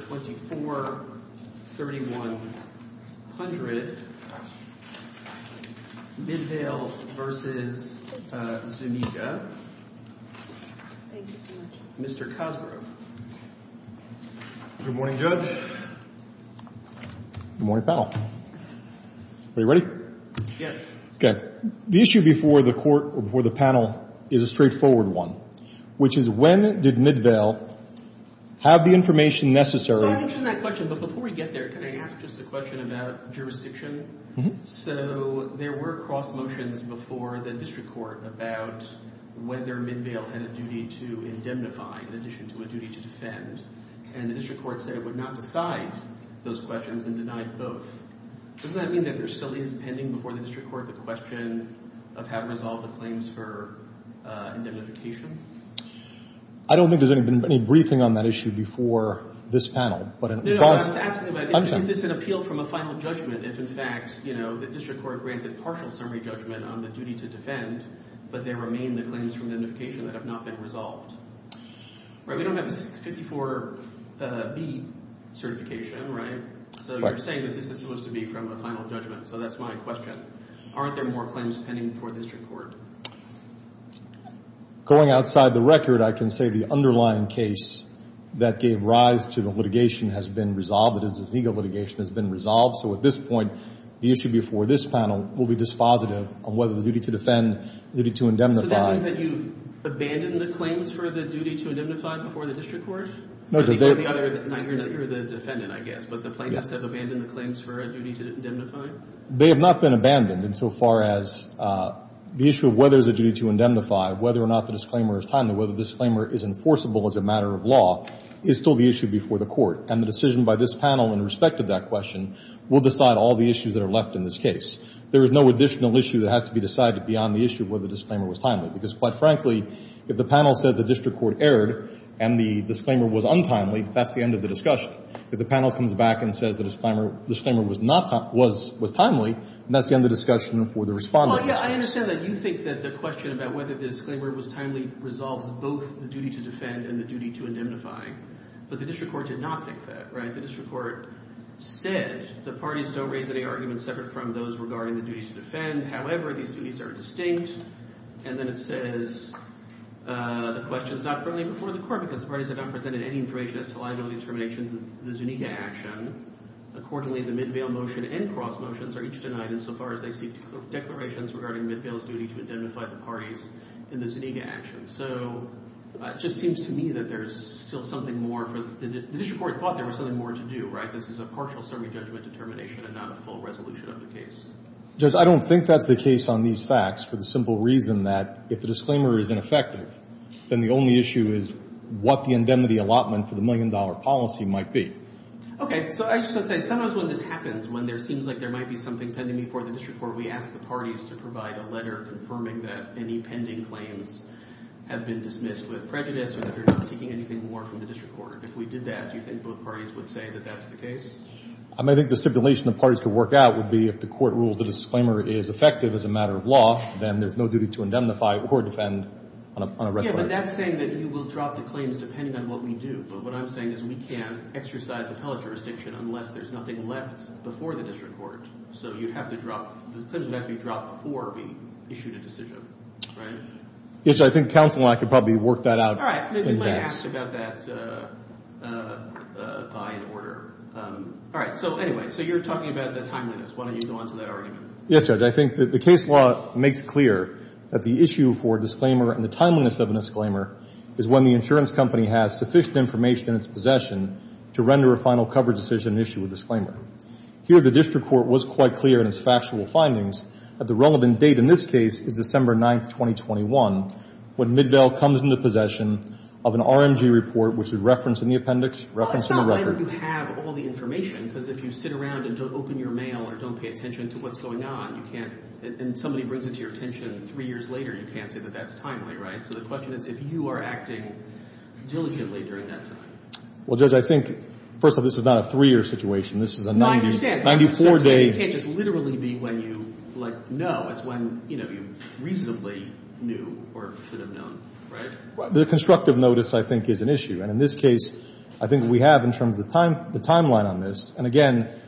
243100 Midvale v. Zuniga. Mr. Cosgrove. Good morning, Judge. Good morning, panel. Are you ready? Yes. Okay. The issue before the panel is a straightforward one, which is when did Midvale have the information necessary to get to the court? So I mentioned that question, but before we get there, can I ask just a question about jurisdiction? So there were cross motions before the district court about whether Midvale had a duty to indemnify in addition to a duty to defend, and the district court said it would not decide those questions and denied both. Doesn't that mean that there still is pending before the district court the question of having resolved the claims for indemnification? I don't think there's been any briefing on that issue before this panel, but in response— No, no. I was asking about is this an appeal from a final judgment if, in fact, you know, the district court granted partial summary judgment on the duty to defend, but there remain the claims for indemnification that have not been resolved? Right? We don't have a 54B certification, right? Right. So you're saying that this is supposed to be from a final judgment, so that's my question. Aren't there more claims pending before the district court? Going outside the record, I can say the underlying case that gave rise to the litigation has been resolved. That is, the legal litigation has been resolved. So at this point, the issue before this panel will be dispositive of whether the duty to defend, duty to indemnify— So that means that you've abandoned the claims for the duty to indemnify before the district court? No, the other— I think you're the defendant, I guess, but the plaintiffs have abandoned the claims for a duty to indemnify? They have not been abandoned insofar as the issue of whether there's a duty to indemnify, whether or not the disclaimer is timely, whether the disclaimer is enforceable as a matter of law, is still the issue before the court. And the decision by this panel in respect to that question will decide all the issues that are left in this case. There is no additional issue that has to be decided beyond the issue of whether the disclaimer was timely, because, quite frankly, if the panel says the district court erred and the disclaimer was untimely, that's the end of the discussion. But if the panel comes back and says the disclaimer was timely, that's the end of the discussion for the respondents. Well, yeah, I understand that. You think that the question about whether the disclaimer was timely resolves both the duty to defend and the duty to indemnify. But the district court did not think that, right? The district court said the parties don't raise any arguments separate from those regarding the duties to defend. However, these duties are distinct. And then it says the question is not friendly before the court because the parties have not presented any information as to liability determinations in the Zuniga action. Accordingly, the mid-bail motion and cross motions are each denied insofar as they seek declarations regarding mid-bail's duty to indemnify the parties in the Zuniga action. So it just seems to me that there's still something more for the district court thought there was something more to do, right? This is a partial summary judgment determination and not a full resolution of the case. Judge, I don't think that's the case on these facts for the simple reason that if the disclaimer is ineffective, then the only issue is what the indemnity allotment for the million-dollar policy might be. Okay. So I just want to say sometimes when this happens, when there seems like there might be something pending before the district court, we ask the parties to provide a letter confirming that any pending claims have been dismissed with prejudice or that they're not seeking anything more from the district court. If we did that, do you think both parties would say that that's the case? I mean, I think the stipulation the parties could work out would be if the court rules the disclaimer is effective as a matter of law, then there's no duty to indemnify or defend on a record. Yeah, but that's saying that you will drop the claims depending on what we do. But what I'm saying is we can't exercise appellate jurisdiction unless there's nothing left before the district court. So you'd have to drop – the claims would have to be dropped before we issued a decision, right? Judge, I think counsel and I could probably work that out in advance. We discussed about that by order. All right, so anyway, so you're talking about the timeliness. Why don't you go on to that argument? Yes, Judge. I think that the case law makes clear that the issue for disclaimer and the timeliness of a disclaimer is when the insurance company has sufficient information in its possession to render a final cover decision issued with disclaimer. Here the district court was quite clear in its factual findings that the relevant date in this case is December 9, 2021, when Middell comes into possession of an RMG report, which is referenced in the appendix, referenced in the record. Well, it's not whether you have all the information, because if you sit around and don't open your mail or don't pay attention to what's going on, you can't – and somebody brings it to your attention three years later, you can't say that that's timely, right? So the question is if you are acting diligently during that time. Well, Judge, I think – first of all, this is not a three-year situation. This is a 94-day – The constructive notice, I think, is an issue. And in this case, I think we have in terms of the timeline on this. And again,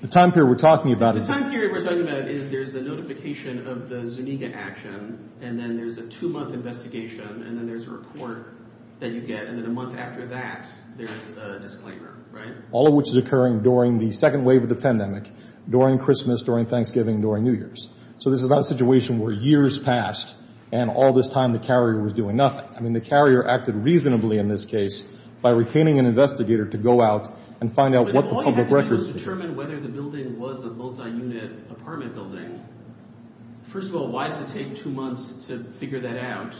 the time period we're talking about is – The time period we're talking about is there's a notification of the Zuniga action, and then there's a two-month investigation, and then there's a report that you get. And then a month after that, there's a disclaimer, right? All of which is occurring during the second wave of the pandemic, during Christmas, during Thanksgiving, during New Year's. So this is not a situation where years passed and all this time the carrier was doing nothing. I mean, the carrier acted reasonably in this case by retaining an investigator to go out and find out what the public records – If all you had to do was determine whether the building was a multi-unit apartment building, first of all, why does it take two months to figure that out?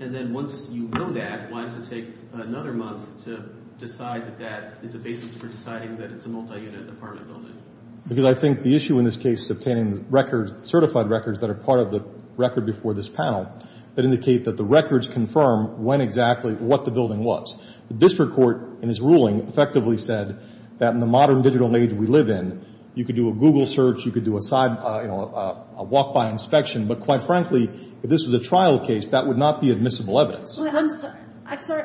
And then once you know that, why does it take another month to decide that that is the basis for deciding that it's a multi-unit apartment building? Because I think the issue in this case is obtaining records – certified records that are part of the record before this panel that indicate that the records confirm when exactly – what the building was. The district court, in its ruling, effectively said that in the modern digital age we live in, you could do a Google search, you could do a walk-by inspection. But quite frankly, if this was a trial case, that would not be admissible evidence. I'm sorry.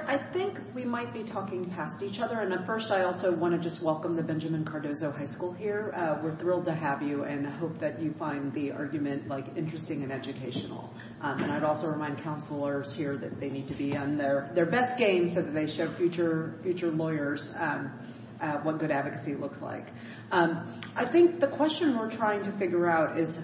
I think we might be talking past each other. And first, I also want to just welcome the Benjamin Cardozo High School here. We're thrilled to have you and hope that you find the argument interesting and educational. And I'd also remind counselors here that they need to be on their best game so that they show future lawyers what good advocacy looks like. I think the question we're trying to figure out is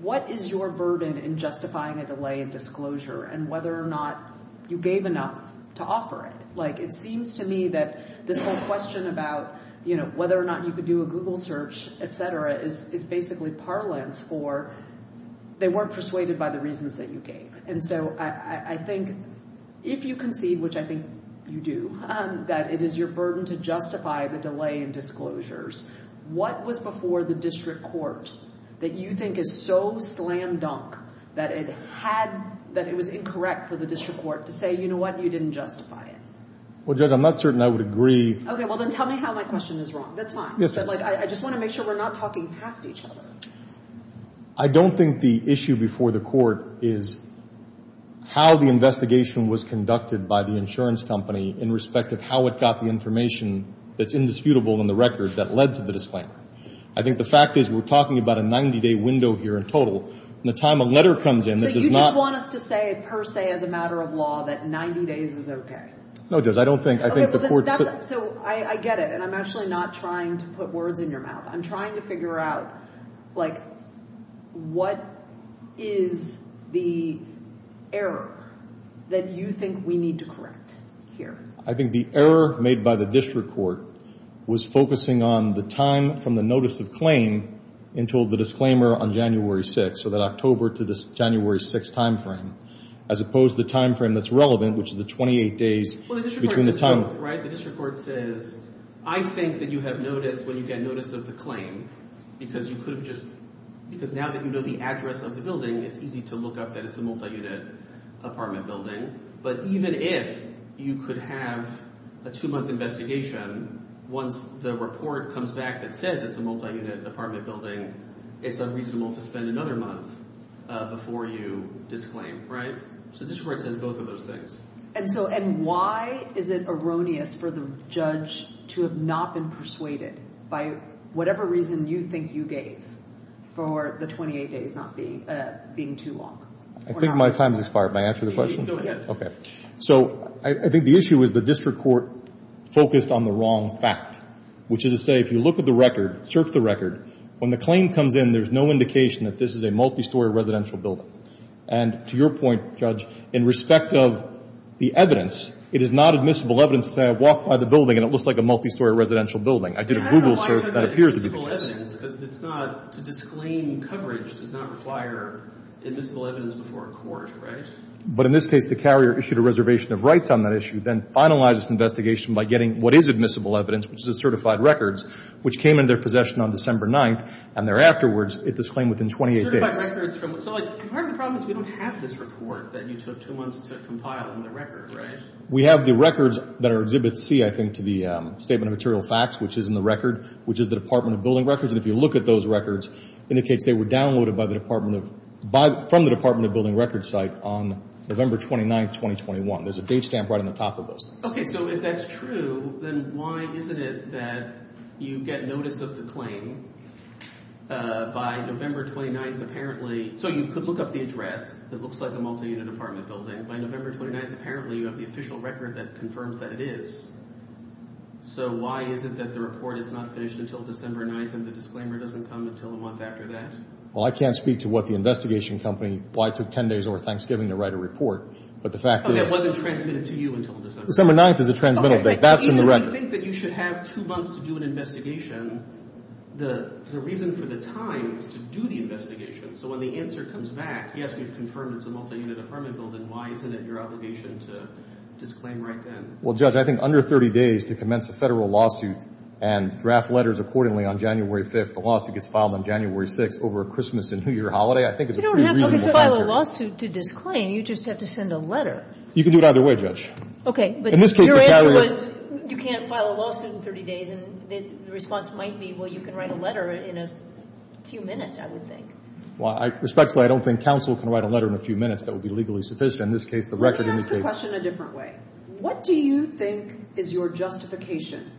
what is your burden in justifying a delay in disclosure and whether or not you gave enough to offer it? Like, it seems to me that this whole question about, you know, whether or not you could do a Google search, et cetera, is basically parlance for they weren't persuaded by the reasons that you gave. And so I think if you concede, which I think you do, that it is your burden to justify the delay in disclosures, what was before the district court that you think is so slam dunk that it had – that it was incorrect for the district court to say, you know what, you didn't justify it? Well, Judge, I'm not certain I would agree. Okay. Well, then tell me how my question is wrong. That's fine. Yes, Judge. But, like, I just want to make sure we're not talking past each other. I don't think the issue before the court is how the investigation was conducted by the insurance company in respect of how it got the information that's indisputable in the record that led to the disclaimer. I think the fact is we're talking about a 90-day window here in total. And the time a letter comes in that does not – So you just want us to say per se as a matter of law that 90 days is okay? No, Judge, I don't think – I think the court – So I get it, and I'm actually not trying to put words in your mouth. I'm trying to figure out, like, what is the error that you think we need to correct here? I think the error made by the district court was focusing on the time from the notice of claim until the disclaimer on January 6th, so that October to January 6th timeframe, as opposed to the timeframe that's relevant, which is the 28 days between the time – Well, the district court says both, right? The district court says I think that you have noticed when you get notice of the claim because you could have just – because now that you know the address of the building, it's easy to look up that it's a multi-unit apartment building. But even if you could have a two-month investigation, once the report comes back that says it's a multi-unit apartment building, it's unreasonable to spend another month before you disclaim, right? So the district court says both of those things. And so – and why is it erroneous for the judge to have not been persuaded by whatever reason you think you gave for the 28 days not being too long? I think my time has expired. May I answer the question? Go ahead. Okay. So I think the issue is the district court focused on the wrong fact, which is to say if you look at the record, search the record, when the claim comes in there's no indication that this is a multi-story residential building. And to your point, Judge, in respect of the evidence, it is not admissible evidence to say I walked by the building and it looks like a multi-story residential building. I did a Google search that appears to be the case. To disclaim coverage does not require admissible evidence before a court, right? But in this case the carrier issued a reservation of rights on that issue, then finalized this investigation by getting what is admissible evidence, which is the certified records, which came into their possession on December 9th, and thereafterwards it was claimed within 28 days. Certified records from – so part of the problem is we don't have this report that you took two months to compile in the record, right? We have the records that are Exhibit C, I think, to the Statement of Material Facts, which is in the record, which is the Department of Building Records. And if you look at those records, it indicates they were downloaded by the Department of – from the Department of Building Records site on November 29th, 2021. There's a date stamp right on the top of those things. Okay, so if that's true, then why isn't it that you get notice of the claim by November 29th apparently – so you could look up the address that looks like a multi-unit apartment building. By November 29th apparently you have the official record that confirms that it is. So why is it that the report is not finished until December 9th and the disclaimer doesn't come until a month after that? Well, I can't speak to what the investigation company – why it took 10 days over Thanksgiving to write a report, but the fact is – Okay, it wasn't transmitted to you until December 9th. December 9th is a transmittal date. That's in the record. Okay, Steve, when you think that you should have two months to do an investigation, the reason for the time is to do the investigation. So when the answer comes back, yes, we've confirmed it's a multi-unit apartment building, why isn't it your obligation to disclaim right then? Well, Judge, I think under 30 days to commence a Federal lawsuit and draft letters accordingly on January 5th, the lawsuit gets filed on January 6th over a Christmas and New Year holiday, I think it's a pretty reasonable time period. You don't have to file a lawsuit to disclaim, you just have to send a letter. You can do it either way, Judge. Okay, but your answer was you can't file a lawsuit in 30 days, and the response might be, well, you can write a letter in a few minutes, I would think. Respectfully, I don't think counsel can write a letter in a few minutes that would be legally sufficient. In this case, the record indicates – Let me ask the question a different way. What do you think is your justification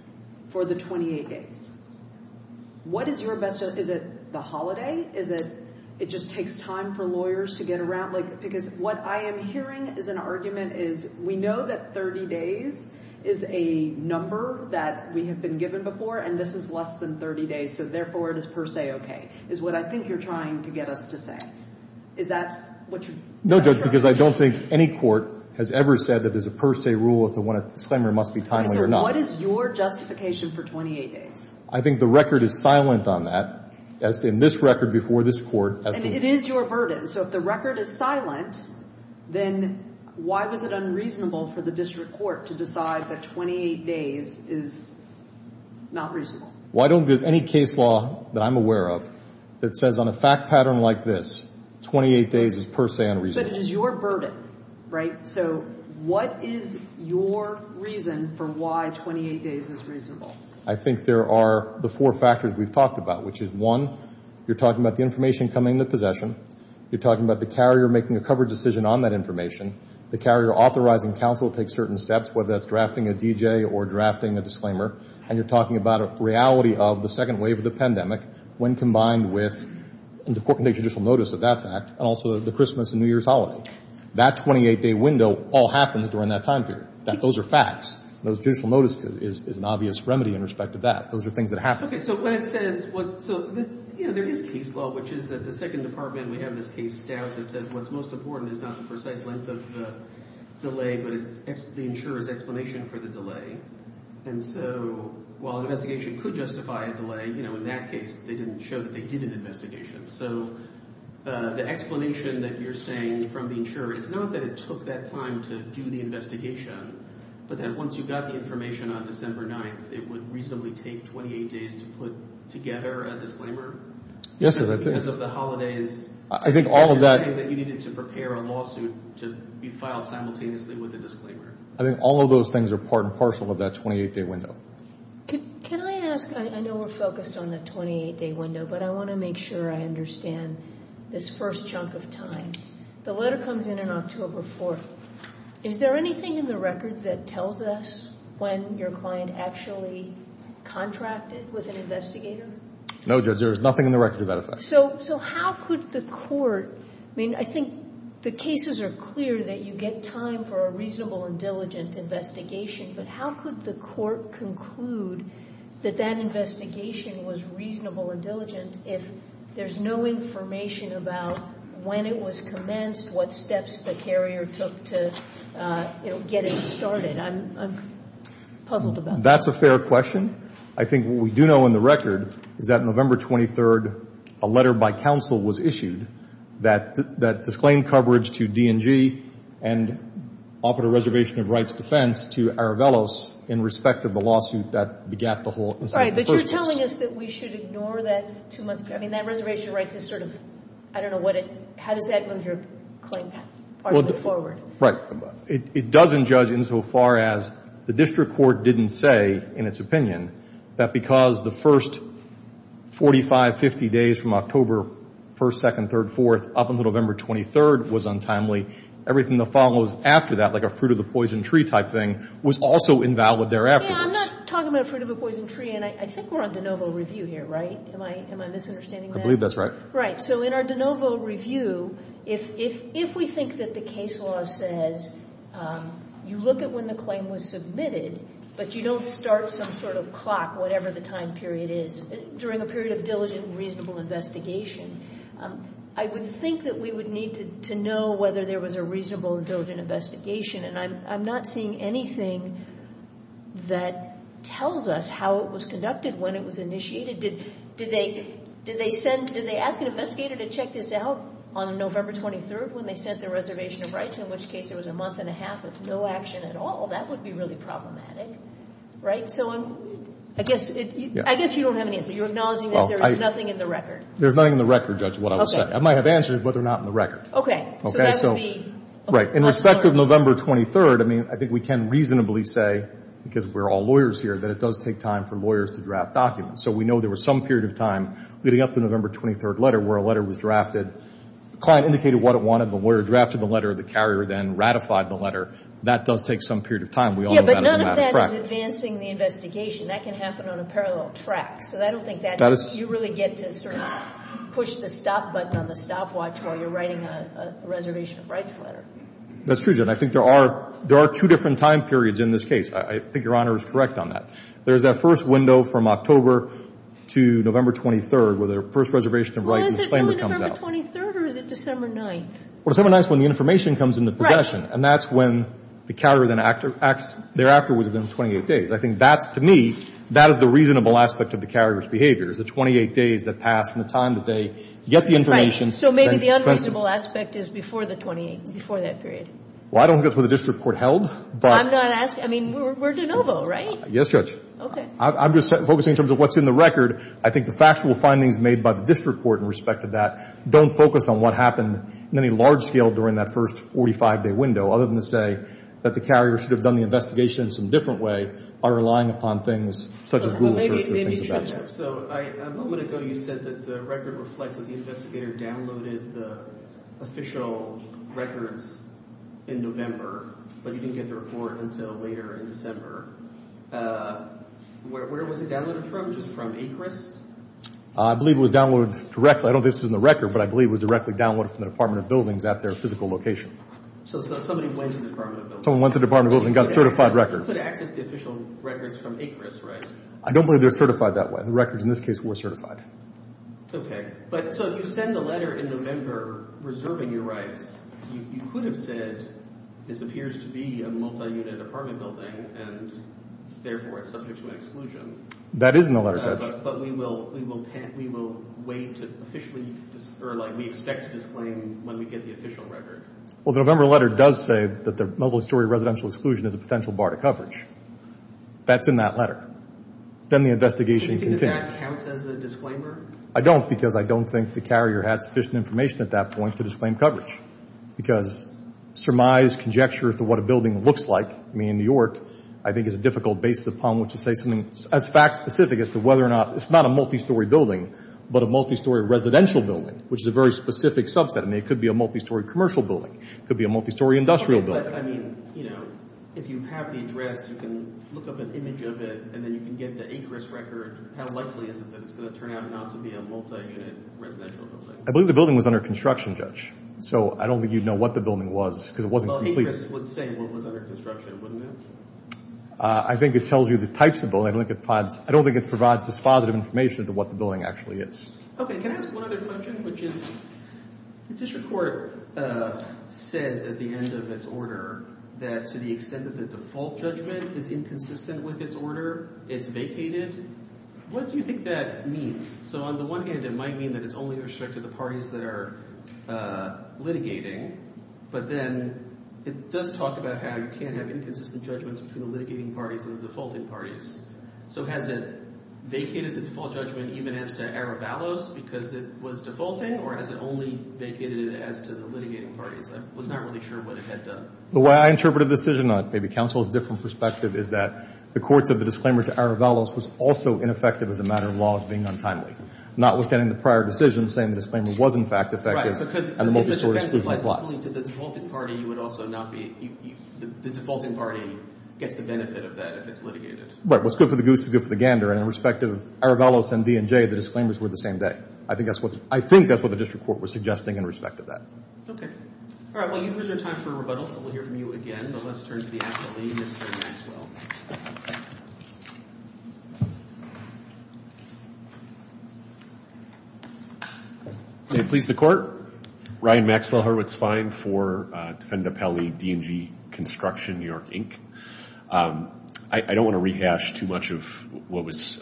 for the 28 days? What is your best – is it the holiday? Is it it just takes time for lawyers to get around? Because what I am hearing is an argument is we know that 30 days is a number that we have been given before, and this is less than 30 days, so therefore it is per se okay, is what I think you're trying to get us to say. Is that what you're – No, Judge, because I don't think any court has ever said that there's a per se rule as to when a disclaimer must be timely or not. Okay, so what is your justification for 28 days? I think the record is silent on that, as in this record before this court. And it is your burden, so if the record is silent, then why was it unreasonable for the district court to decide that 28 days is not reasonable? Why don't any case law that I'm aware of that says on a fact pattern like this, 28 days is per se unreasonable? But it is your burden, right? So what is your reason for why 28 days is reasonable? I think there are the four factors we've talked about, which is, one, you're talking about the information coming into possession, you're talking about the carrier making a coverage decision on that information, the carrier authorizing counsel to take certain steps, whether that's drafting a DJ or drafting a disclaimer, and you're talking about a reality of the second wave of the pandemic when combined with the court can take judicial notice of that fact, and also the Christmas and New Year's holiday. That 28-day window all happens during that time period. Those are facts. Those judicial notices is an obvious remedy in respect to that. Those are things that happen. Okay, so when it says what so, you know, there is case law, which is that the second department, we have this case staff that says what's most important is not the precise length of the delay, but the insurer's explanation for the delay. And so while an investigation could justify a delay, you know, in that case, they didn't show that they did an investigation. So the explanation that you're saying from the insurer is not that it took that time to do the investigation, but that once you got the information on December 9th, it would reasonably take 28 days to put together a disclaimer? Yes, I think. Because of the holidays. I think all of that. That you needed to prepare a lawsuit to be filed simultaneously with a disclaimer. I think all of those things are part and parcel of that 28-day window. Can I ask, I know we're focused on the 28-day window, but I want to make sure I understand this first chunk of time. The letter comes in on October 4th. Is there anything in the record that tells us when your client actually contracted with an investigator? No, Judge, there is nothing in the record to that effect. So how could the court, I mean, I think the cases are clear that you get time for a reasonable and diligent investigation, but how could the court conclude that that investigation was reasonable and diligent if there's no information about when it was commenced, what steps the carrier took to, you know, get it started? I'm puzzled about that. That's a fair question. I think what we do know in the record is that November 23rd, a letter by counsel was issued that disclaimed coverage to D&G and offered a reservation of rights defense to Aravelos in respect of the lawsuit that begat the whole incident. Right, but you're telling us that we should ignore that two-month period. I mean, that reservation of rights is sort of, I don't know what it, how does that move your claim forward? Right. It doesn't, Judge, insofar as the district court didn't say, in its opinion, that because the first 45, 50 days from October 1st, 2nd, 3rd, 4th up until November 23rd was untimely, everything that follows after that, like a fruit-of-the-poison-tree type thing, was also invalid thereafter. Yeah, I'm not talking about fruit-of-the-poison-tree, and I think we're on de novo review here, right? Am I misunderstanding that? I believe that's right. Right. So in our de novo review, if we think that the case law says you look at when the claim was submitted, but you don't start some sort of clock, whatever the time period is, during a period of diligent, reasonable investigation, I would think that we would need to know whether there was a reasonable and diligent investigation, and I'm not seeing anything that tells us how it was conducted when it was initiated. Did they ask an investigator to check this out on November 23rd when they sent their reservation of rights, in which case there was a month and a half with no action at all? That would be really problematic, right? So I guess you don't have an answer. You're acknowledging that there is nothing in the record. There's nothing in the record, Judge, is what I would say. Okay. I might have answers, but they're not in the record. Okay. Okay, so. So that would be. Right. In respect of November 23rd, I mean, I think we can reasonably say, because we're all lawyers here, that it does take time for lawyers to draft documents. So we know there was some period of time leading up to the November 23rd letter where a letter was drafted. The client indicated what it wanted. The lawyer drafted the letter. The carrier then ratified the letter. That does take some period of time. We all know that as a matter of fact. Yeah, but none of that is advancing the investigation. That can happen on a parallel track. So I don't think that you really get to sort of push the stop button on the stopwatch while you're writing a reservation of rights letter. That's true, Judge. And I think there are two different time periods in this case. I think Your Honor is correct on that. There's that first window from October to November 23rd where the first reservation of rights Well, is it really November 23rd or is it December 9th? Well, December 9th is when the information comes into possession. And that's when the carrier then acts thereafter within 28 days. I think that's, to me, that is the reasonable aspect of the carrier's behavior, is the 28 days that pass from the time that they get the information. So maybe the unreasonable aspect is before the 28th, before that period. Well, I don't think that's where the district court held. I'm not asking. I mean, we're de novo, right? Yes, Judge. Okay. I'm just focusing in terms of what's in the record. I think the factual findings made by the district court in respect to that don't focus on what happened in any large scale during that first 45-day window, other than to say that the carrier should have done the investigation in some different way by relying upon things such as Google searches and things of that sort. Well, maybe you should have. So a moment ago you said that the record reflects that the investigator downloaded the official records in November, but you didn't get the report until later in December. Where was it downloaded from? Just from ACRIS? I believe it was downloaded directly. I don't think it's in the record, but I believe it was directly downloaded from the Department of Buildings at their physical location. So somebody went to the Department of Buildings. Someone went to the Department of Buildings and got certified records. They could have accessed the official records from ACRIS, right? I don't believe they were certified that way. The records in this case were certified. Okay. But so if you send the letter in November reserving your rights, you could have said this appears to be a multi-unit apartment building and therefore it's subject to an exclusion. That is in the letter, Coach. But we will wait to officially, or like we expect to disclaim when we get the official record. Well, the November letter does say that the mobile story residential exclusion is a potential bar to coverage. That's in that letter. Then the investigation continues. So you think that that counts as a disclaimer? I don't because I don't think the carrier had sufficient information at that point to disclaim coverage because surmise, conjecture as to what a building looks like, I mean in New York, I think it's a difficult basis upon which to say something as fact specific as to whether or not, it's not a multi-story building, but a multi-story residential building, which is a very specific subset. I mean it could be a multi-story commercial building. It could be a multi-story industrial building. I mean, you know, if you have the address, you can look up an image of it and then you can get the ACRIS record. How likely is it that it's going to turn out not to be a multi-unit residential building? I believe the building was under construction, Judge. So I don't think you'd know what the building was because it wasn't completed. ACRIS would say what was under construction, wouldn't it? I think it tells you the types of buildings. I don't think it provides dispositive information to what the building actually is. Okay. Can I ask one other question, which is the district court says at the end of its order that to the extent that the default judgment is inconsistent with its order, it's vacated. What do you think that means? So on the one hand, it might mean that it's only restricted to the parties that are litigating, but then it does talk about how you can't have inconsistent judgments between the litigating parties and the defaulting parties. So has it vacated the default judgment even as to Aravalos because it was defaulting or has it only vacated it as to the litigating parties? I was not really sure what it had done. The way I interpret a decision on it, maybe counsel has a different perspective, is that the courts of the disclaimer to Aravalos was also ineffective as a matter of law as being untimely. Notwithstanding the prior decision saying the disclaimer was in fact effective and the multi-source exclusion plot. If the defense applies only to the defaulting party, you would also not be – the defaulting party gets the benefit of that if it's litigated. But what's good for the goose is good for the gander, and in respect of Aravalos and D&J, the disclaimers were the same day. I think that's what the district court was suggesting in respect of that. Okay. All right. Well, you've used your time for rebuttal, so we'll hear from you again, but let's turn to the athlete, Mr. Maxwell. May it please the court? Ryan Maxwell, Horowitz Fine for Defend Appellee, D&J Construction, New York, Inc. I don't want to rehash too much of what was –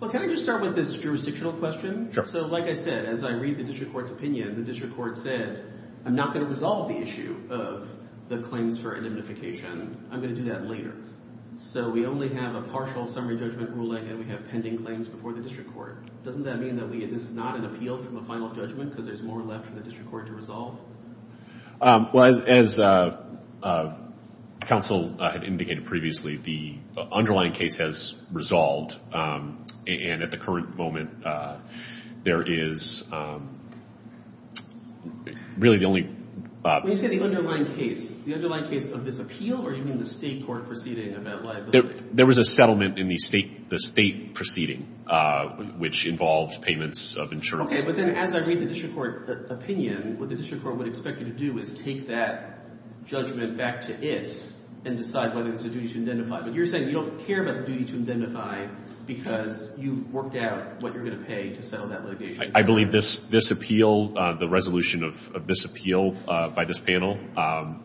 Well, can I just start with this jurisdictional question? Sure. So like I said, as I read the district court's opinion, the district court said I'm not going to resolve the issue of the claims for indemnification. I'm going to do that later. So we only have a partial summary judgment ruling, and we have pending claims before the district court. Doesn't that mean that this is not an appeal from a final judgment because there's more left for the district court to resolve? Well, as counsel had indicated previously, the underlying case has resolved, and at the current moment there is really the only – When you say the underlying case, the underlying case of this appeal, or do you mean the state court proceeding about liability? There was a settlement in the state proceeding which involved payments of insurance. Okay, but then as I read the district court opinion, what the district court would expect you to do is take that judgment back to it and decide whether it's a duty to identify. But you're saying you don't care about the duty to identify because you worked out what you're going to pay to settle that litigation. I believe this appeal, the resolution of this appeal by this panel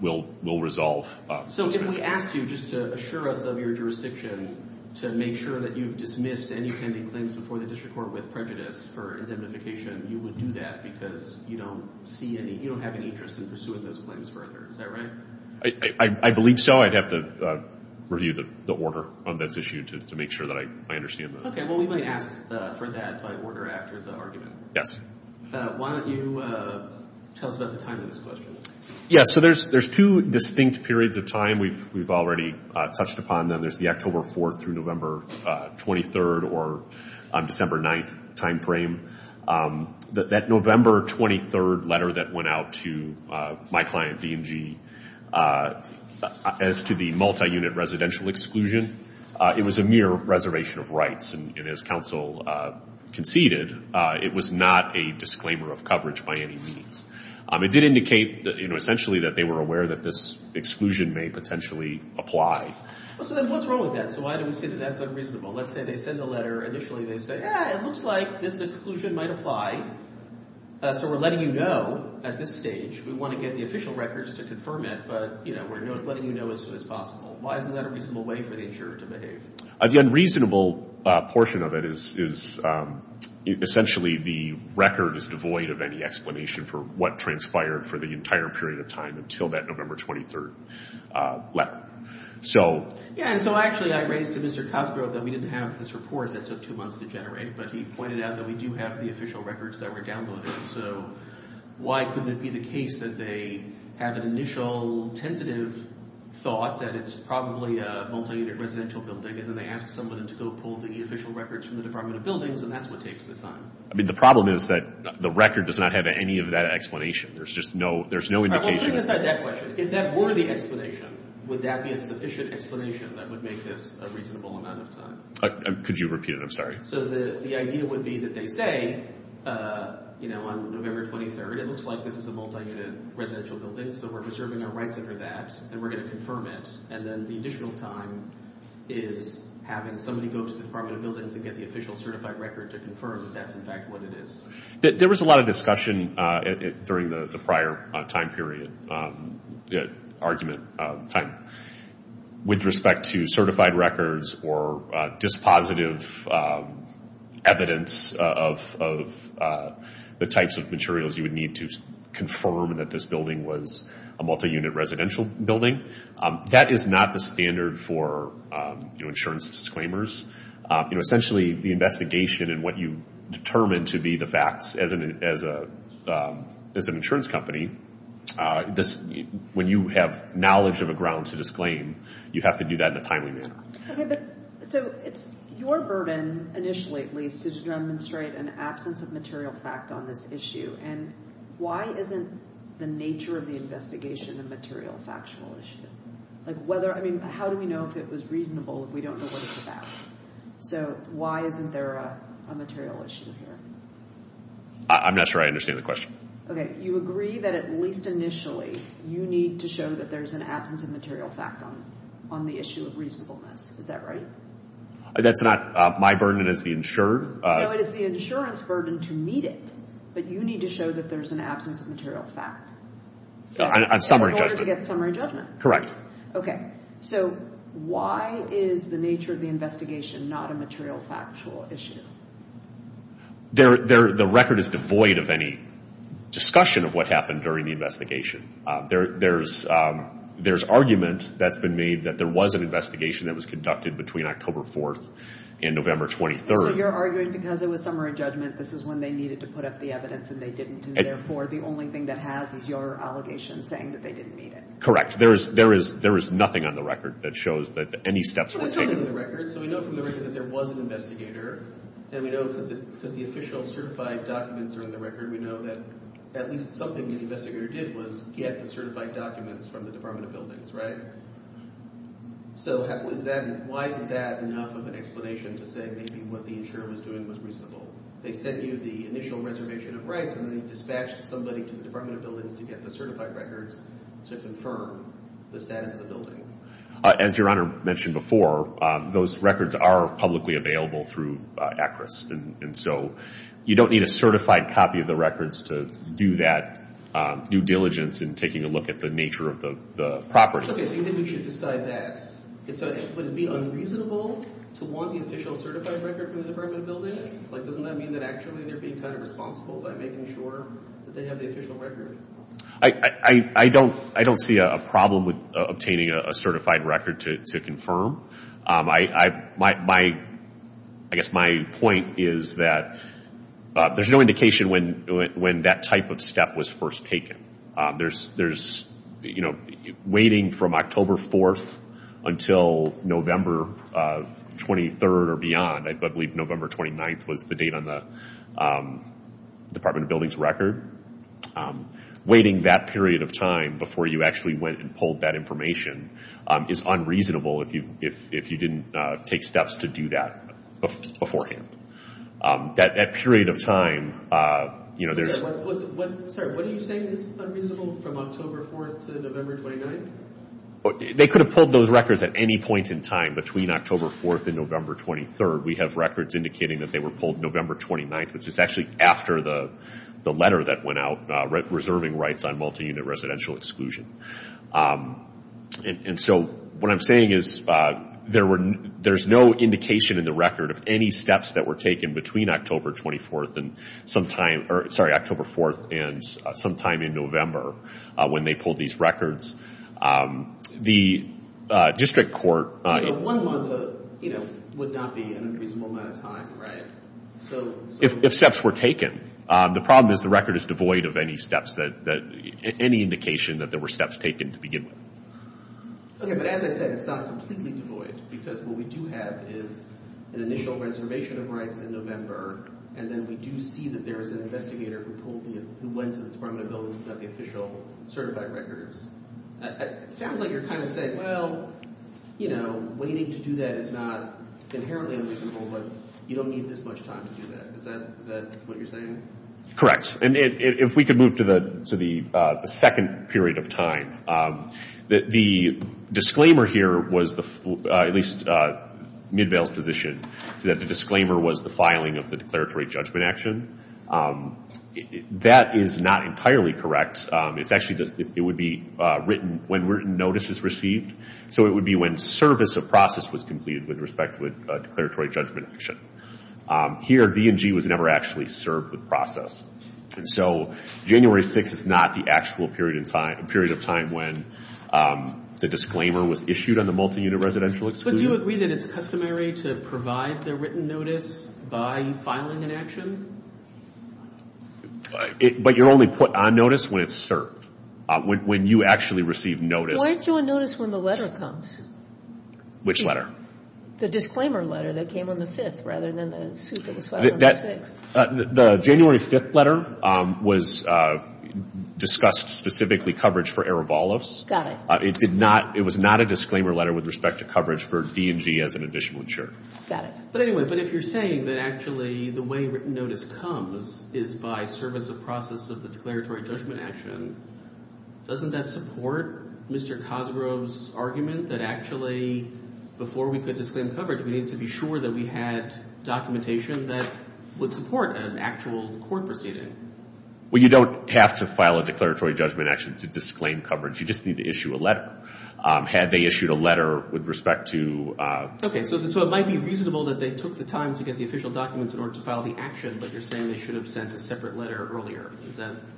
will resolve. So if we asked you just to assure us of your jurisdiction to make sure that you've dismissed any pending claims before the district court with prejudice for indemnification, you would do that because you don't see any – you don't have any interest in pursuing those claims further. Is that right? I believe so. I'd have to review the order on this issue to make sure that I understand that. Okay, well, we might ask for that by order after the argument. Why don't you tell us about the timing of this question? Yes, so there's two distinct periods of time we've already touched upon. There's the October 4th through November 23rd or December 9th timeframe. That November 23rd letter that went out to my client, D&G, as to the multi-unit residential exclusion, it was a mere reservation of rights. And as counsel conceded, it was not a disclaimer of coverage by any means. It did indicate, you know, essentially that they were aware that this exclusion may potentially apply. Well, so then what's wrong with that? So why do we say that that's unreasonable? Let's say they send the letter. Initially they say, yeah, it looks like this exclusion might apply. So we're letting you know at this stage. We want to get the official records to confirm it, but, you know, we're letting you know as soon as possible. Why isn't that a reasonable way for the insurer to behave? The unreasonable portion of it is essentially the record is devoid of any explanation for what transpired for the entire period of time until that November 23rd letter. Yeah, and so actually I raised to Mr. Cosgrove that we didn't have this report that took two months to generate, but he pointed out that we do have the official records that were downloaded. So why couldn't it be the case that they had an initial tentative thought that it's probably a multi-unit residential building, and then they asked someone to go pull the official records from the Department of Buildings, and that's what takes the time. I mean, the problem is that the record does not have any of that explanation. There's just no indication. All right, well, put aside that question. If that were the explanation, would that be a sufficient explanation that would make this a reasonable amount of time? Could you repeat it? I'm sorry. So the idea would be that they say, you know, on November 23rd, it looks like this is a multi-unit residential building, so we're preserving our rights under that, and we're going to confirm it, and then the additional time is having somebody go to the Department of Buildings and get the official certified record to confirm that that's, in fact, what it is. There was a lot of discussion during the prior time period, argument time, with respect to certified records or dispositive evidence of the types of materials you would need to confirm that this building was a multi-unit residential building. That is not the standard for insurance disclaimers. Essentially, the investigation and what you determine to be the facts as an insurance company, when you have knowledge of a ground to disclaim, you have to do that in a timely manner. So it's your burden, initially at least, to demonstrate an absence of material fact on this issue, and why isn't the nature of the investigation a material factual issue? I mean, how do we know if it was reasonable if we don't know what it's about? So why isn't there a material issue here? I'm not sure I understand the question. Okay, you agree that at least initially you need to show that there's an absence of material fact on the issue of reasonableness. Is that right? That's not my burden as the insurer. No, it is the insurance burden to meet it, but you need to show that there's an absence of material fact. On summary judgment. In order to get summary judgment. Correct. Okay, so why is the nature of the investigation not a material factual issue? The record is devoid of any discussion of what happened during the investigation. There's argument that's been made that there was an investigation that was conducted between October 4th and November 23rd. So you're arguing because it was summary judgment, this is when they needed to put up the evidence and they didn't, and therefore the only thing that has is your allegation saying that they didn't meet it. Correct. There is nothing on the record that shows that any steps were taken. Can I jump in on the record? So we know from the record that there was an investigator, and we know because the official certified documents are in the record, we know that at least something the investigator did was get the certified documents from the Department of Buildings, right? So why isn't that enough of an explanation to say maybe what the insurer was doing was reasonable? They sent you the initial reservation of rights and then they dispatched somebody to the Department of Buildings to get the certified records to confirm the status of the building. As Your Honor mentioned before, those records are publicly available through ACRIS, and so you don't need a certified copy of the records to do that due diligence in taking a look at the nature of the property. Okay, so you think we should decide that. Would it be unreasonable to want the official certified record from the Department of Buildings? Like doesn't that mean that actually they're being kind of responsible by making sure that they have the official record? I don't see a problem with obtaining a certified record to confirm. I guess my point is that there's no indication when that type of step was first taken. There's waiting from October 4th until November 23rd or beyond. I believe November 29th was the date on the Department of Buildings record. Waiting that period of time before you actually went and pulled that information is unreasonable if you didn't take steps to do that beforehand. That period of time, you know, there's... Sorry, what are you saying is unreasonable from October 4th to November 29th? They could have pulled those records at any point in time between October 4th and November 23rd. We have records indicating that they were pulled November 29th, which is actually after the letter that went out reserving rights on multi-unit residential exclusion. And so what I'm saying is there's no indication in the record of any steps that were taken between October 24th and sometime... Sorry, October 4th and sometime in November when they pulled these records. The district court... One month would not be an unreasonable amount of time, right? If steps were taken. The problem is the record is devoid of any steps that... any indication that there were steps taken to begin with. Okay, but as I said, it's not completely devoid because what we do have is an initial reservation of rights in November, and then we do see that there was an investigator who pulled the... who went to the Department of Buildings and got the official certified records. It sounds like you're kind of saying, well, you know, waiting to do that is not inherently unreasonable, but you don't need this much time to do that. Is that what you're saying? Correct. And if we could move to the second period of time. The disclaimer here was the...at least Midvale's position that the disclaimer was the filing of the declaratory judgment action. That is not entirely correct. It's actually...it would be written when notice is received, so it would be when service of process was completed with respect to a declaratory judgment action. Here, D&G was never actually served with process. And so January 6th is not the actual period of time when the disclaimer was issued on the multi-unit residential exclusion. But do you agree that it's customary to provide the written notice by filing an action? But you're only put on notice when it's served, when you actually receive notice. Why aren't you on notice when the letter comes? Which letter? The disclaimer letter that came on the 5th rather than the suit that was filed on the 6th. The January 5th letter was discussed specifically coverage for Erevalovs. Got it. It did not...it was not a disclaimer letter with respect to coverage for D&G as an additional insurer. Got it. But anyway, but if you're saying that actually the way written notice comes is by service of process of declaratory judgment action, doesn't that support Mr. Cosgrove's argument that actually before we could disclaim coverage, we need to be sure that we had documentation that would support an actual court proceeding? Well, you don't have to file a declaratory judgment action to disclaim coverage. You just need to issue a letter. Had they issued a letter with respect to... Okay, so it might be reasonable that they took the time to get the official documents in order to file the action, but you're saying they should have sent a separate letter earlier.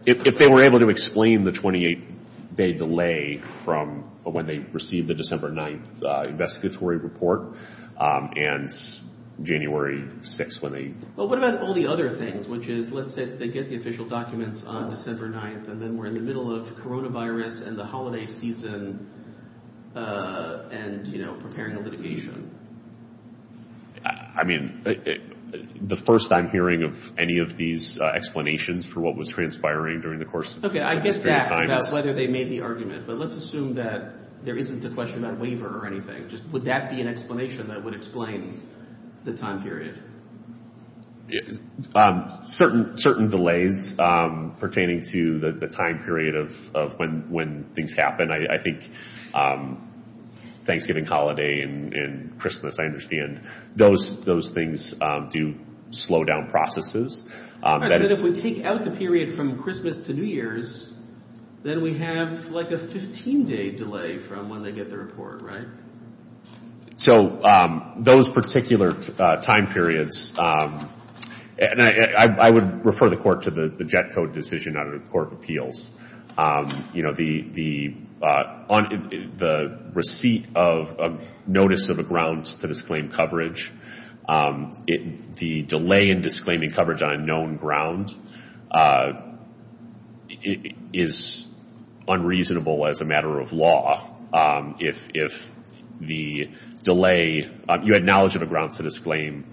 If they were able to explain the 28-day delay from when they received the December 9th investigatory report and January 6th when they... Well, what about all the other things, which is let's say they get the official documents on December 9th and then we're in the middle of coronavirus and the holiday season and, you know, preparing a litigation? I mean, the first I'm hearing of any of these explanations for what was transpiring during the course of... Okay, I get that about whether they made the argument, but let's assume that there isn't a question about waiver or anything. Would that be an explanation that would explain the time period? Certain delays pertaining to the time period of when things happen. I think Thanksgiving holiday and Christmas, I understand. Those things do slow down processes. All right, but if we take out the period from Christmas to New Year's, then we have like a 15-day delay from when they get the report, right? So those particular time periods, and I would refer the court to the JET code decision out of the Court of Appeals. You know, the receipt of notice of a grounds to disclaim coverage, the delay in disclaiming coverage on a known ground, is unreasonable as a matter of law if the delay... You had knowledge of a grounds to disclaim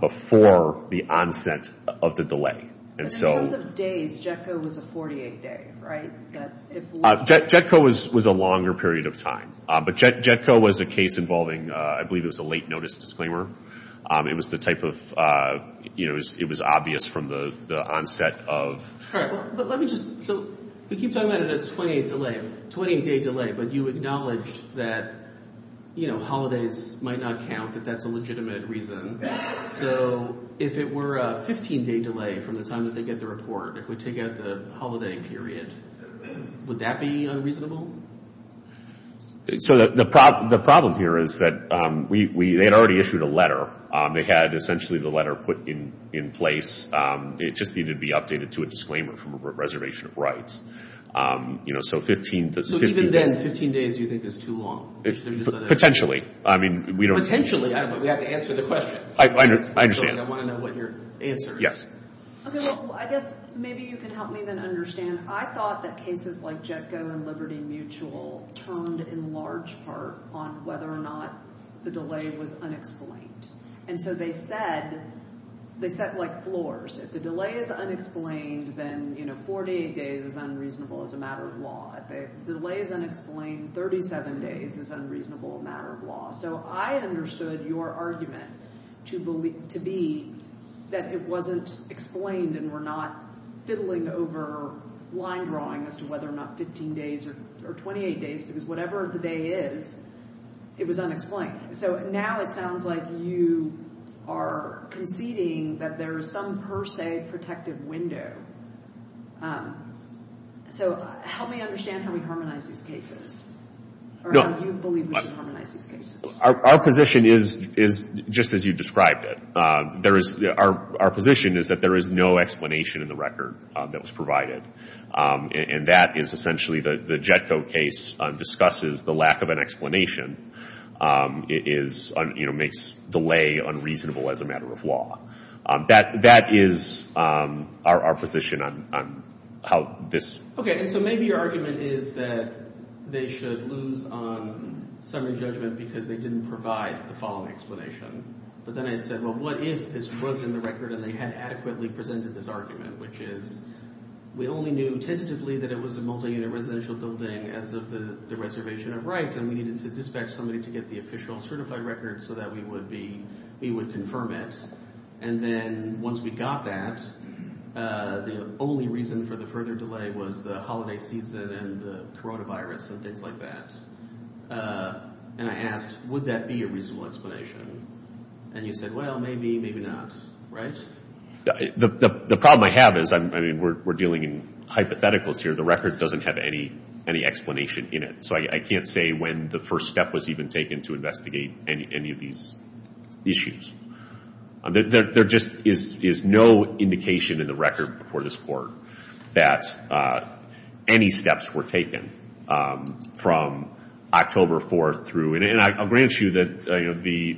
before the onset of the delay. But in terms of days, JET code was a 48-day, right? JET code was a longer period of time. But JET code was a case involving, I believe it was a late notice disclaimer. It was the type of... It was obvious from the onset of... All right, but let me just... So we keep talking about it as 28-day delay, but you acknowledged that holidays might not count, that that's a legitimate reason. So if it were a 15-day delay from the time that they get the report, if we take out the holiday period, would that be unreasonable? So the problem here is that they had already issued a letter. They had essentially the letter put in place. It just needed to be updated to a disclaimer from a reservation of rights. So 15 days... So even then, 15 days you think is too long? Potentially. Potentially? We have to answer the question. I understand. I want to know what your answer is. Yes. Okay, well, I guess maybe you can help me then understand. I thought that cases like JETCO and Liberty Mutual turned in large part on whether or not the delay was unexplained. And so they said... They set, like, floors. If the delay is unexplained, then 48 days is unreasonable as a matter of law. If the delay is unexplained, 37 days is unreasonable as a matter of law. So I understood your argument to be that it wasn't explained and we're not fiddling over line drawing as to whether or not 15 days or 28 days, because whatever the day is, it was unexplained. So now it sounds like you are conceding that there is some per se protective window. So help me understand how we harmonize these cases, or how you believe we should harmonize these cases. Our position is just as you described it. Our position is that there is no explanation in the record that was provided. And that is essentially the JETCO case discusses the lack of an explanation. It makes delay unreasonable as a matter of law. That is our position on how this... Okay, and so maybe your argument is that they should lose on summary judgment because they didn't provide the following explanation. But then I said, well, what if this was in the record and they had adequately presented this argument, which is we only knew tentatively that it was a multi-unit residential building as of the reservation of rights, and we needed to dispatch somebody to get the official certified record so that we would confirm it. And then once we got that, the only reason for the further delay was the holiday season and the coronavirus and things like that. And I asked, would that be a reasonable explanation? And you said, well, maybe, maybe not, right? The problem I have is, I mean, we're dealing in hypotheticals here. The record doesn't have any explanation in it. So I can't say when the first step was even taken to investigate any of these issues. There just is no indication in the record before this Court that any steps were taken from October 4th through. And I'll grant you that the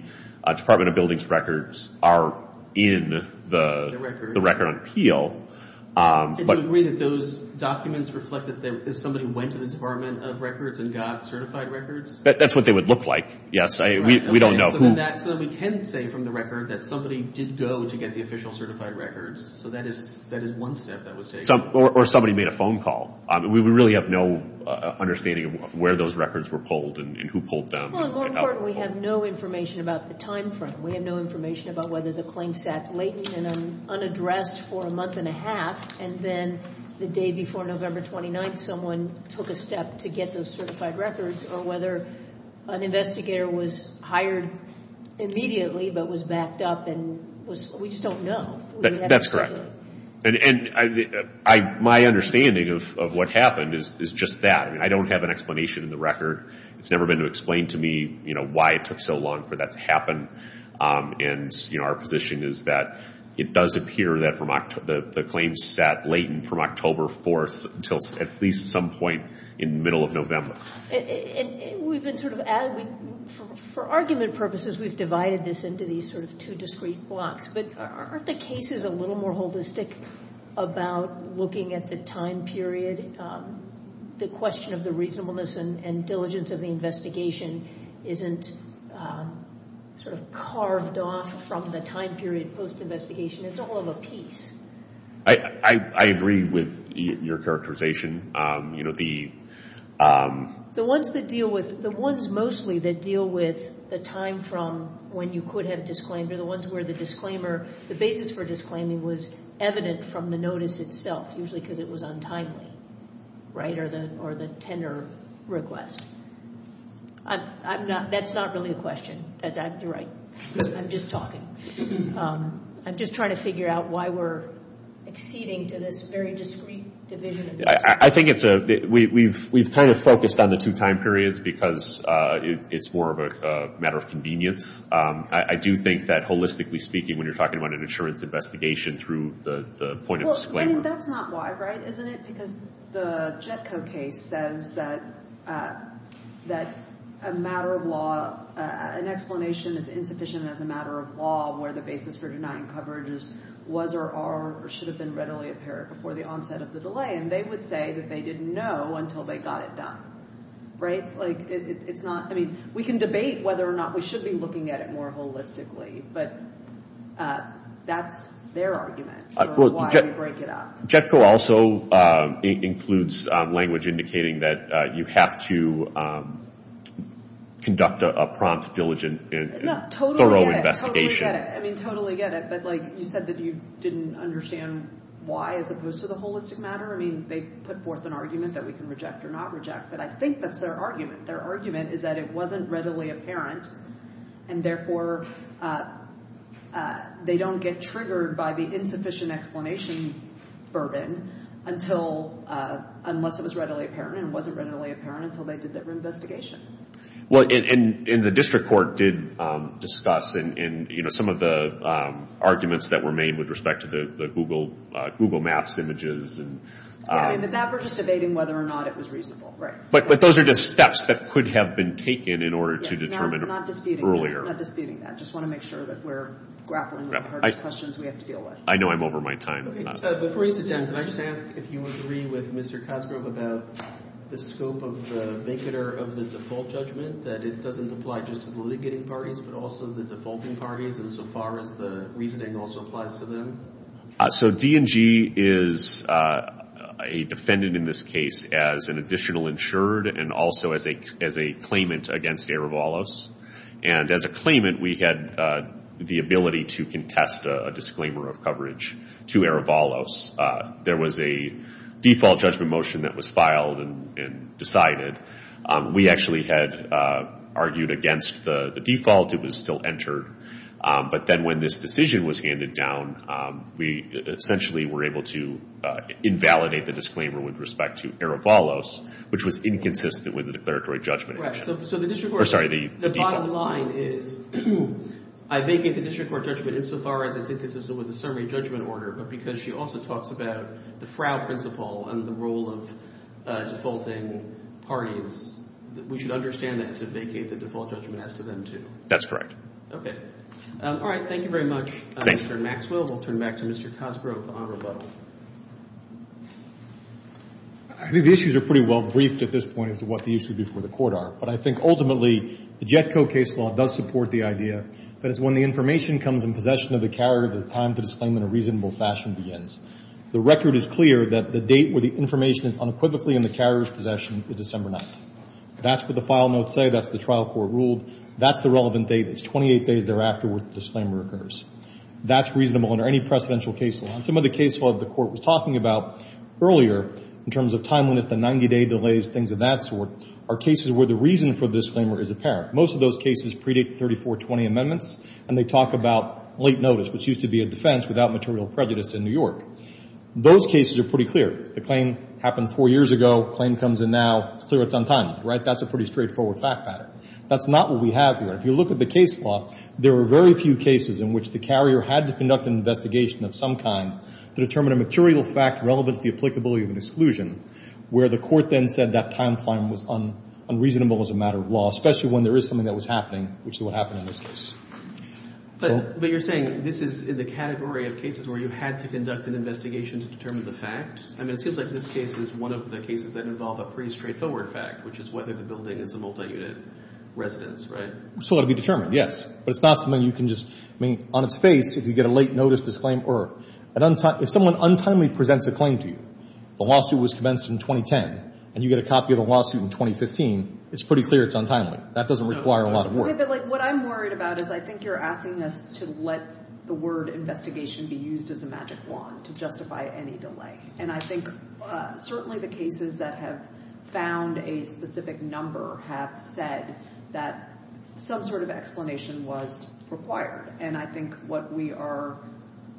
Department of Buildings records are in the record on appeal. Do you agree that those documents reflect that somebody went to the Department of Records and got certified records? That's what they would look like, yes. So then we can say from the record that somebody did go to get the official certified records. So that is one step that would say. Or somebody made a phone call. We really have no understanding of where those records were pulled and who pulled them. Well, in going forward, we have no information about the time frame. We have no information about whether the claim sat latent and unaddressed for a month and a half, and then the day before November 29th someone took a step to get those certified records, or whether an investigator was hired immediately but was backed up. And we just don't know. That's correct. And my understanding of what happened is just that. I mean, I don't have an explanation in the record. It's never been explained to me, you know, why it took so long for that to happen. And, you know, our position is that it does appear that the claim sat latent from October 4th until at least some point in the middle of November. And we've been sort of adding, for argument purposes, we've divided this into these sort of two discrete blocks. But aren't the cases a little more holistic about looking at the time period? The question of the reasonableness and diligence of the investigation isn't sort of carved off from the time period post-investigation. It's all of a piece. I agree with your characterization. You know, the... The ones that deal with, the ones mostly that deal with the time from when you could have disclaimed are the ones where the disclaimer, the basis for disclaiming was evident from the notice itself, usually because it was untimely, right, or the tender request. That's not really a question. You're right. I'm just talking. I'm just trying to figure out why we're acceding to this very discrete division. I think it's a... We've kind of focused on the two time periods because it's more of a matter of convenience. I do think that, holistically speaking, when you're talking about an insurance investigation through the point of disclaimer. Well, I mean, that's not why, right, isn't it? Because the JETCO case says that a matter of law, an explanation is insufficient as a matter of law where the basis for denying coverage was or are or should have been readily apparent before the onset of the delay. And they would say that they didn't know until they got it done, right? I mean, we can debate whether or not we should be looking at it more holistically, but that's their argument for why we break it up. JETCO also includes language indicating that you have to conduct a prompt, diligent, thorough investigation. Totally get it. I mean, totally get it. But, like, you said that you didn't understand why as opposed to the holistic matter. I mean, they put forth an argument that we can reject or not reject, but I think that's their argument. Their argument is that it wasn't readily apparent and, therefore, they don't get triggered by the insufficient explanation burden unless it was readily apparent and it wasn't readily apparent until they did their investigation. Well, and the district court did discuss in, you know, some of the arguments that were made with respect to the Google Maps images. Yeah, but that we're just debating whether or not it was reasonable, right? But those are just steps that could have been taken in order to determine earlier. Not disputing that. Just want to make sure that we're grappling with the hardest questions we have to deal with. I know I'm over my time. Before you sit down, can I just ask if you agree with Mr. Cosgrove about the scope of the vincitor of the default judgment, that it doesn't apply just to the litigating parties but also the defaulting parties insofar as the reasoning also applies to them? So D&G is a defendant in this case as an additional insured and also as a claimant against Erevalos. And as a claimant, we had the ability to contest a disclaimer of coverage to Erevalos. There was a default judgment motion that was filed and decided. We actually had argued against the default. It was still entered. But then when this decision was handed down, we essentially were able to invalidate the disclaimer with respect to Erevalos, which was inconsistent with the declaratory judgment. Right, so the district court. Sorry, the default. The bottom line is I vacate the district court judgment insofar as it's inconsistent with the summary judgment order, but because she also talks about the frow principle and the role of defaulting parties, we should understand that to vacate the default judgment as to them too. That's correct. Okay. All right, thank you very much, Mr. Maxwell. We'll turn it back to Mr. Cosgrove on rebuttal. I think the issues are pretty well briefed at this point as to what the issues before the court are, but I think ultimately the JETCO case law does support the idea that it's when the information comes in possession of the carrier that the time to disclaim in a reasonable fashion begins. The record is clear that the date where the information is unequivocally in the carrier's possession is December 9th. That's what the file notes say. That's what the trial court ruled. That's the relevant date. It's 28 days thereafter where the disclaimer occurs. That's reasonable under any precedential case law. Some of the case law that the court was talking about earlier, in terms of timeliness, the 90-day delays, things of that sort, are cases where the reason for the disclaimer is apparent. Most of those cases predate the 3420 amendments, and they talk about late notice, which used to be a defense, without material prejudice in New York. Those cases are pretty clear. The claim happened four years ago. The claim comes in now. It's clear it's untimely, right? That's a pretty straightforward fact pattern. That's not what we have here. If you look at the case law, there are very few cases in which the carrier had to conduct an investigation of some kind to determine a material fact relevant to the applicability of an exclusion, where the court then said that timeframe was unreasonable as a matter of law, especially when there is something that was happening, which is what happened in this case. But you're saying this is in the category of cases where you had to conduct an investigation to determine the fact? I mean, it seems like this case is one of the cases that involve a pretty straightforward fact, which is whether the building is a multi-unit residence, right? So it will be determined, yes. But it's not something you can just – I mean, on its face, if you get a late notice disclaimer or – if someone untimely presents a claim to you, the lawsuit was commenced in 2010, and you get a copy of the lawsuit in 2015, it's pretty clear it's untimely. That doesn't require a lot of work. But what I'm worried about is I think you're asking us to let the word investigation be used as a magic wand to justify any delay. And I think certainly the cases that have found a specific number have said that some sort of explanation was required. And I think what we are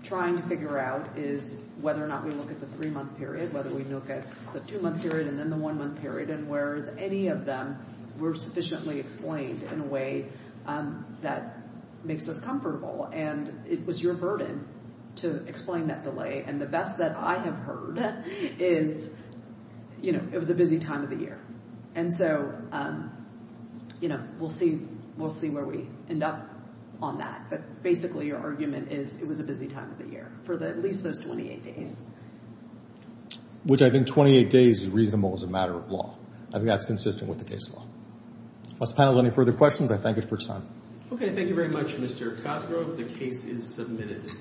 trying to figure out is whether or not we look at the three-month period, whether we look at the two-month period and then the one-month period, and whereas any of them were sufficiently explained in a way that makes us comfortable. And it was your burden to explain that delay. And the best that I have heard is, you know, it was a busy time of the year. And so, you know, we'll see where we end up on that. But basically your argument is it was a busy time of the year for at least those 28 days. Which I think 28 days is reasonable as a matter of law. I think that's consistent with the case law. Unless the panel has any further questions, I thank you for your time. Okay, thank you very much, Mr. Cosgrove. The case is submitted.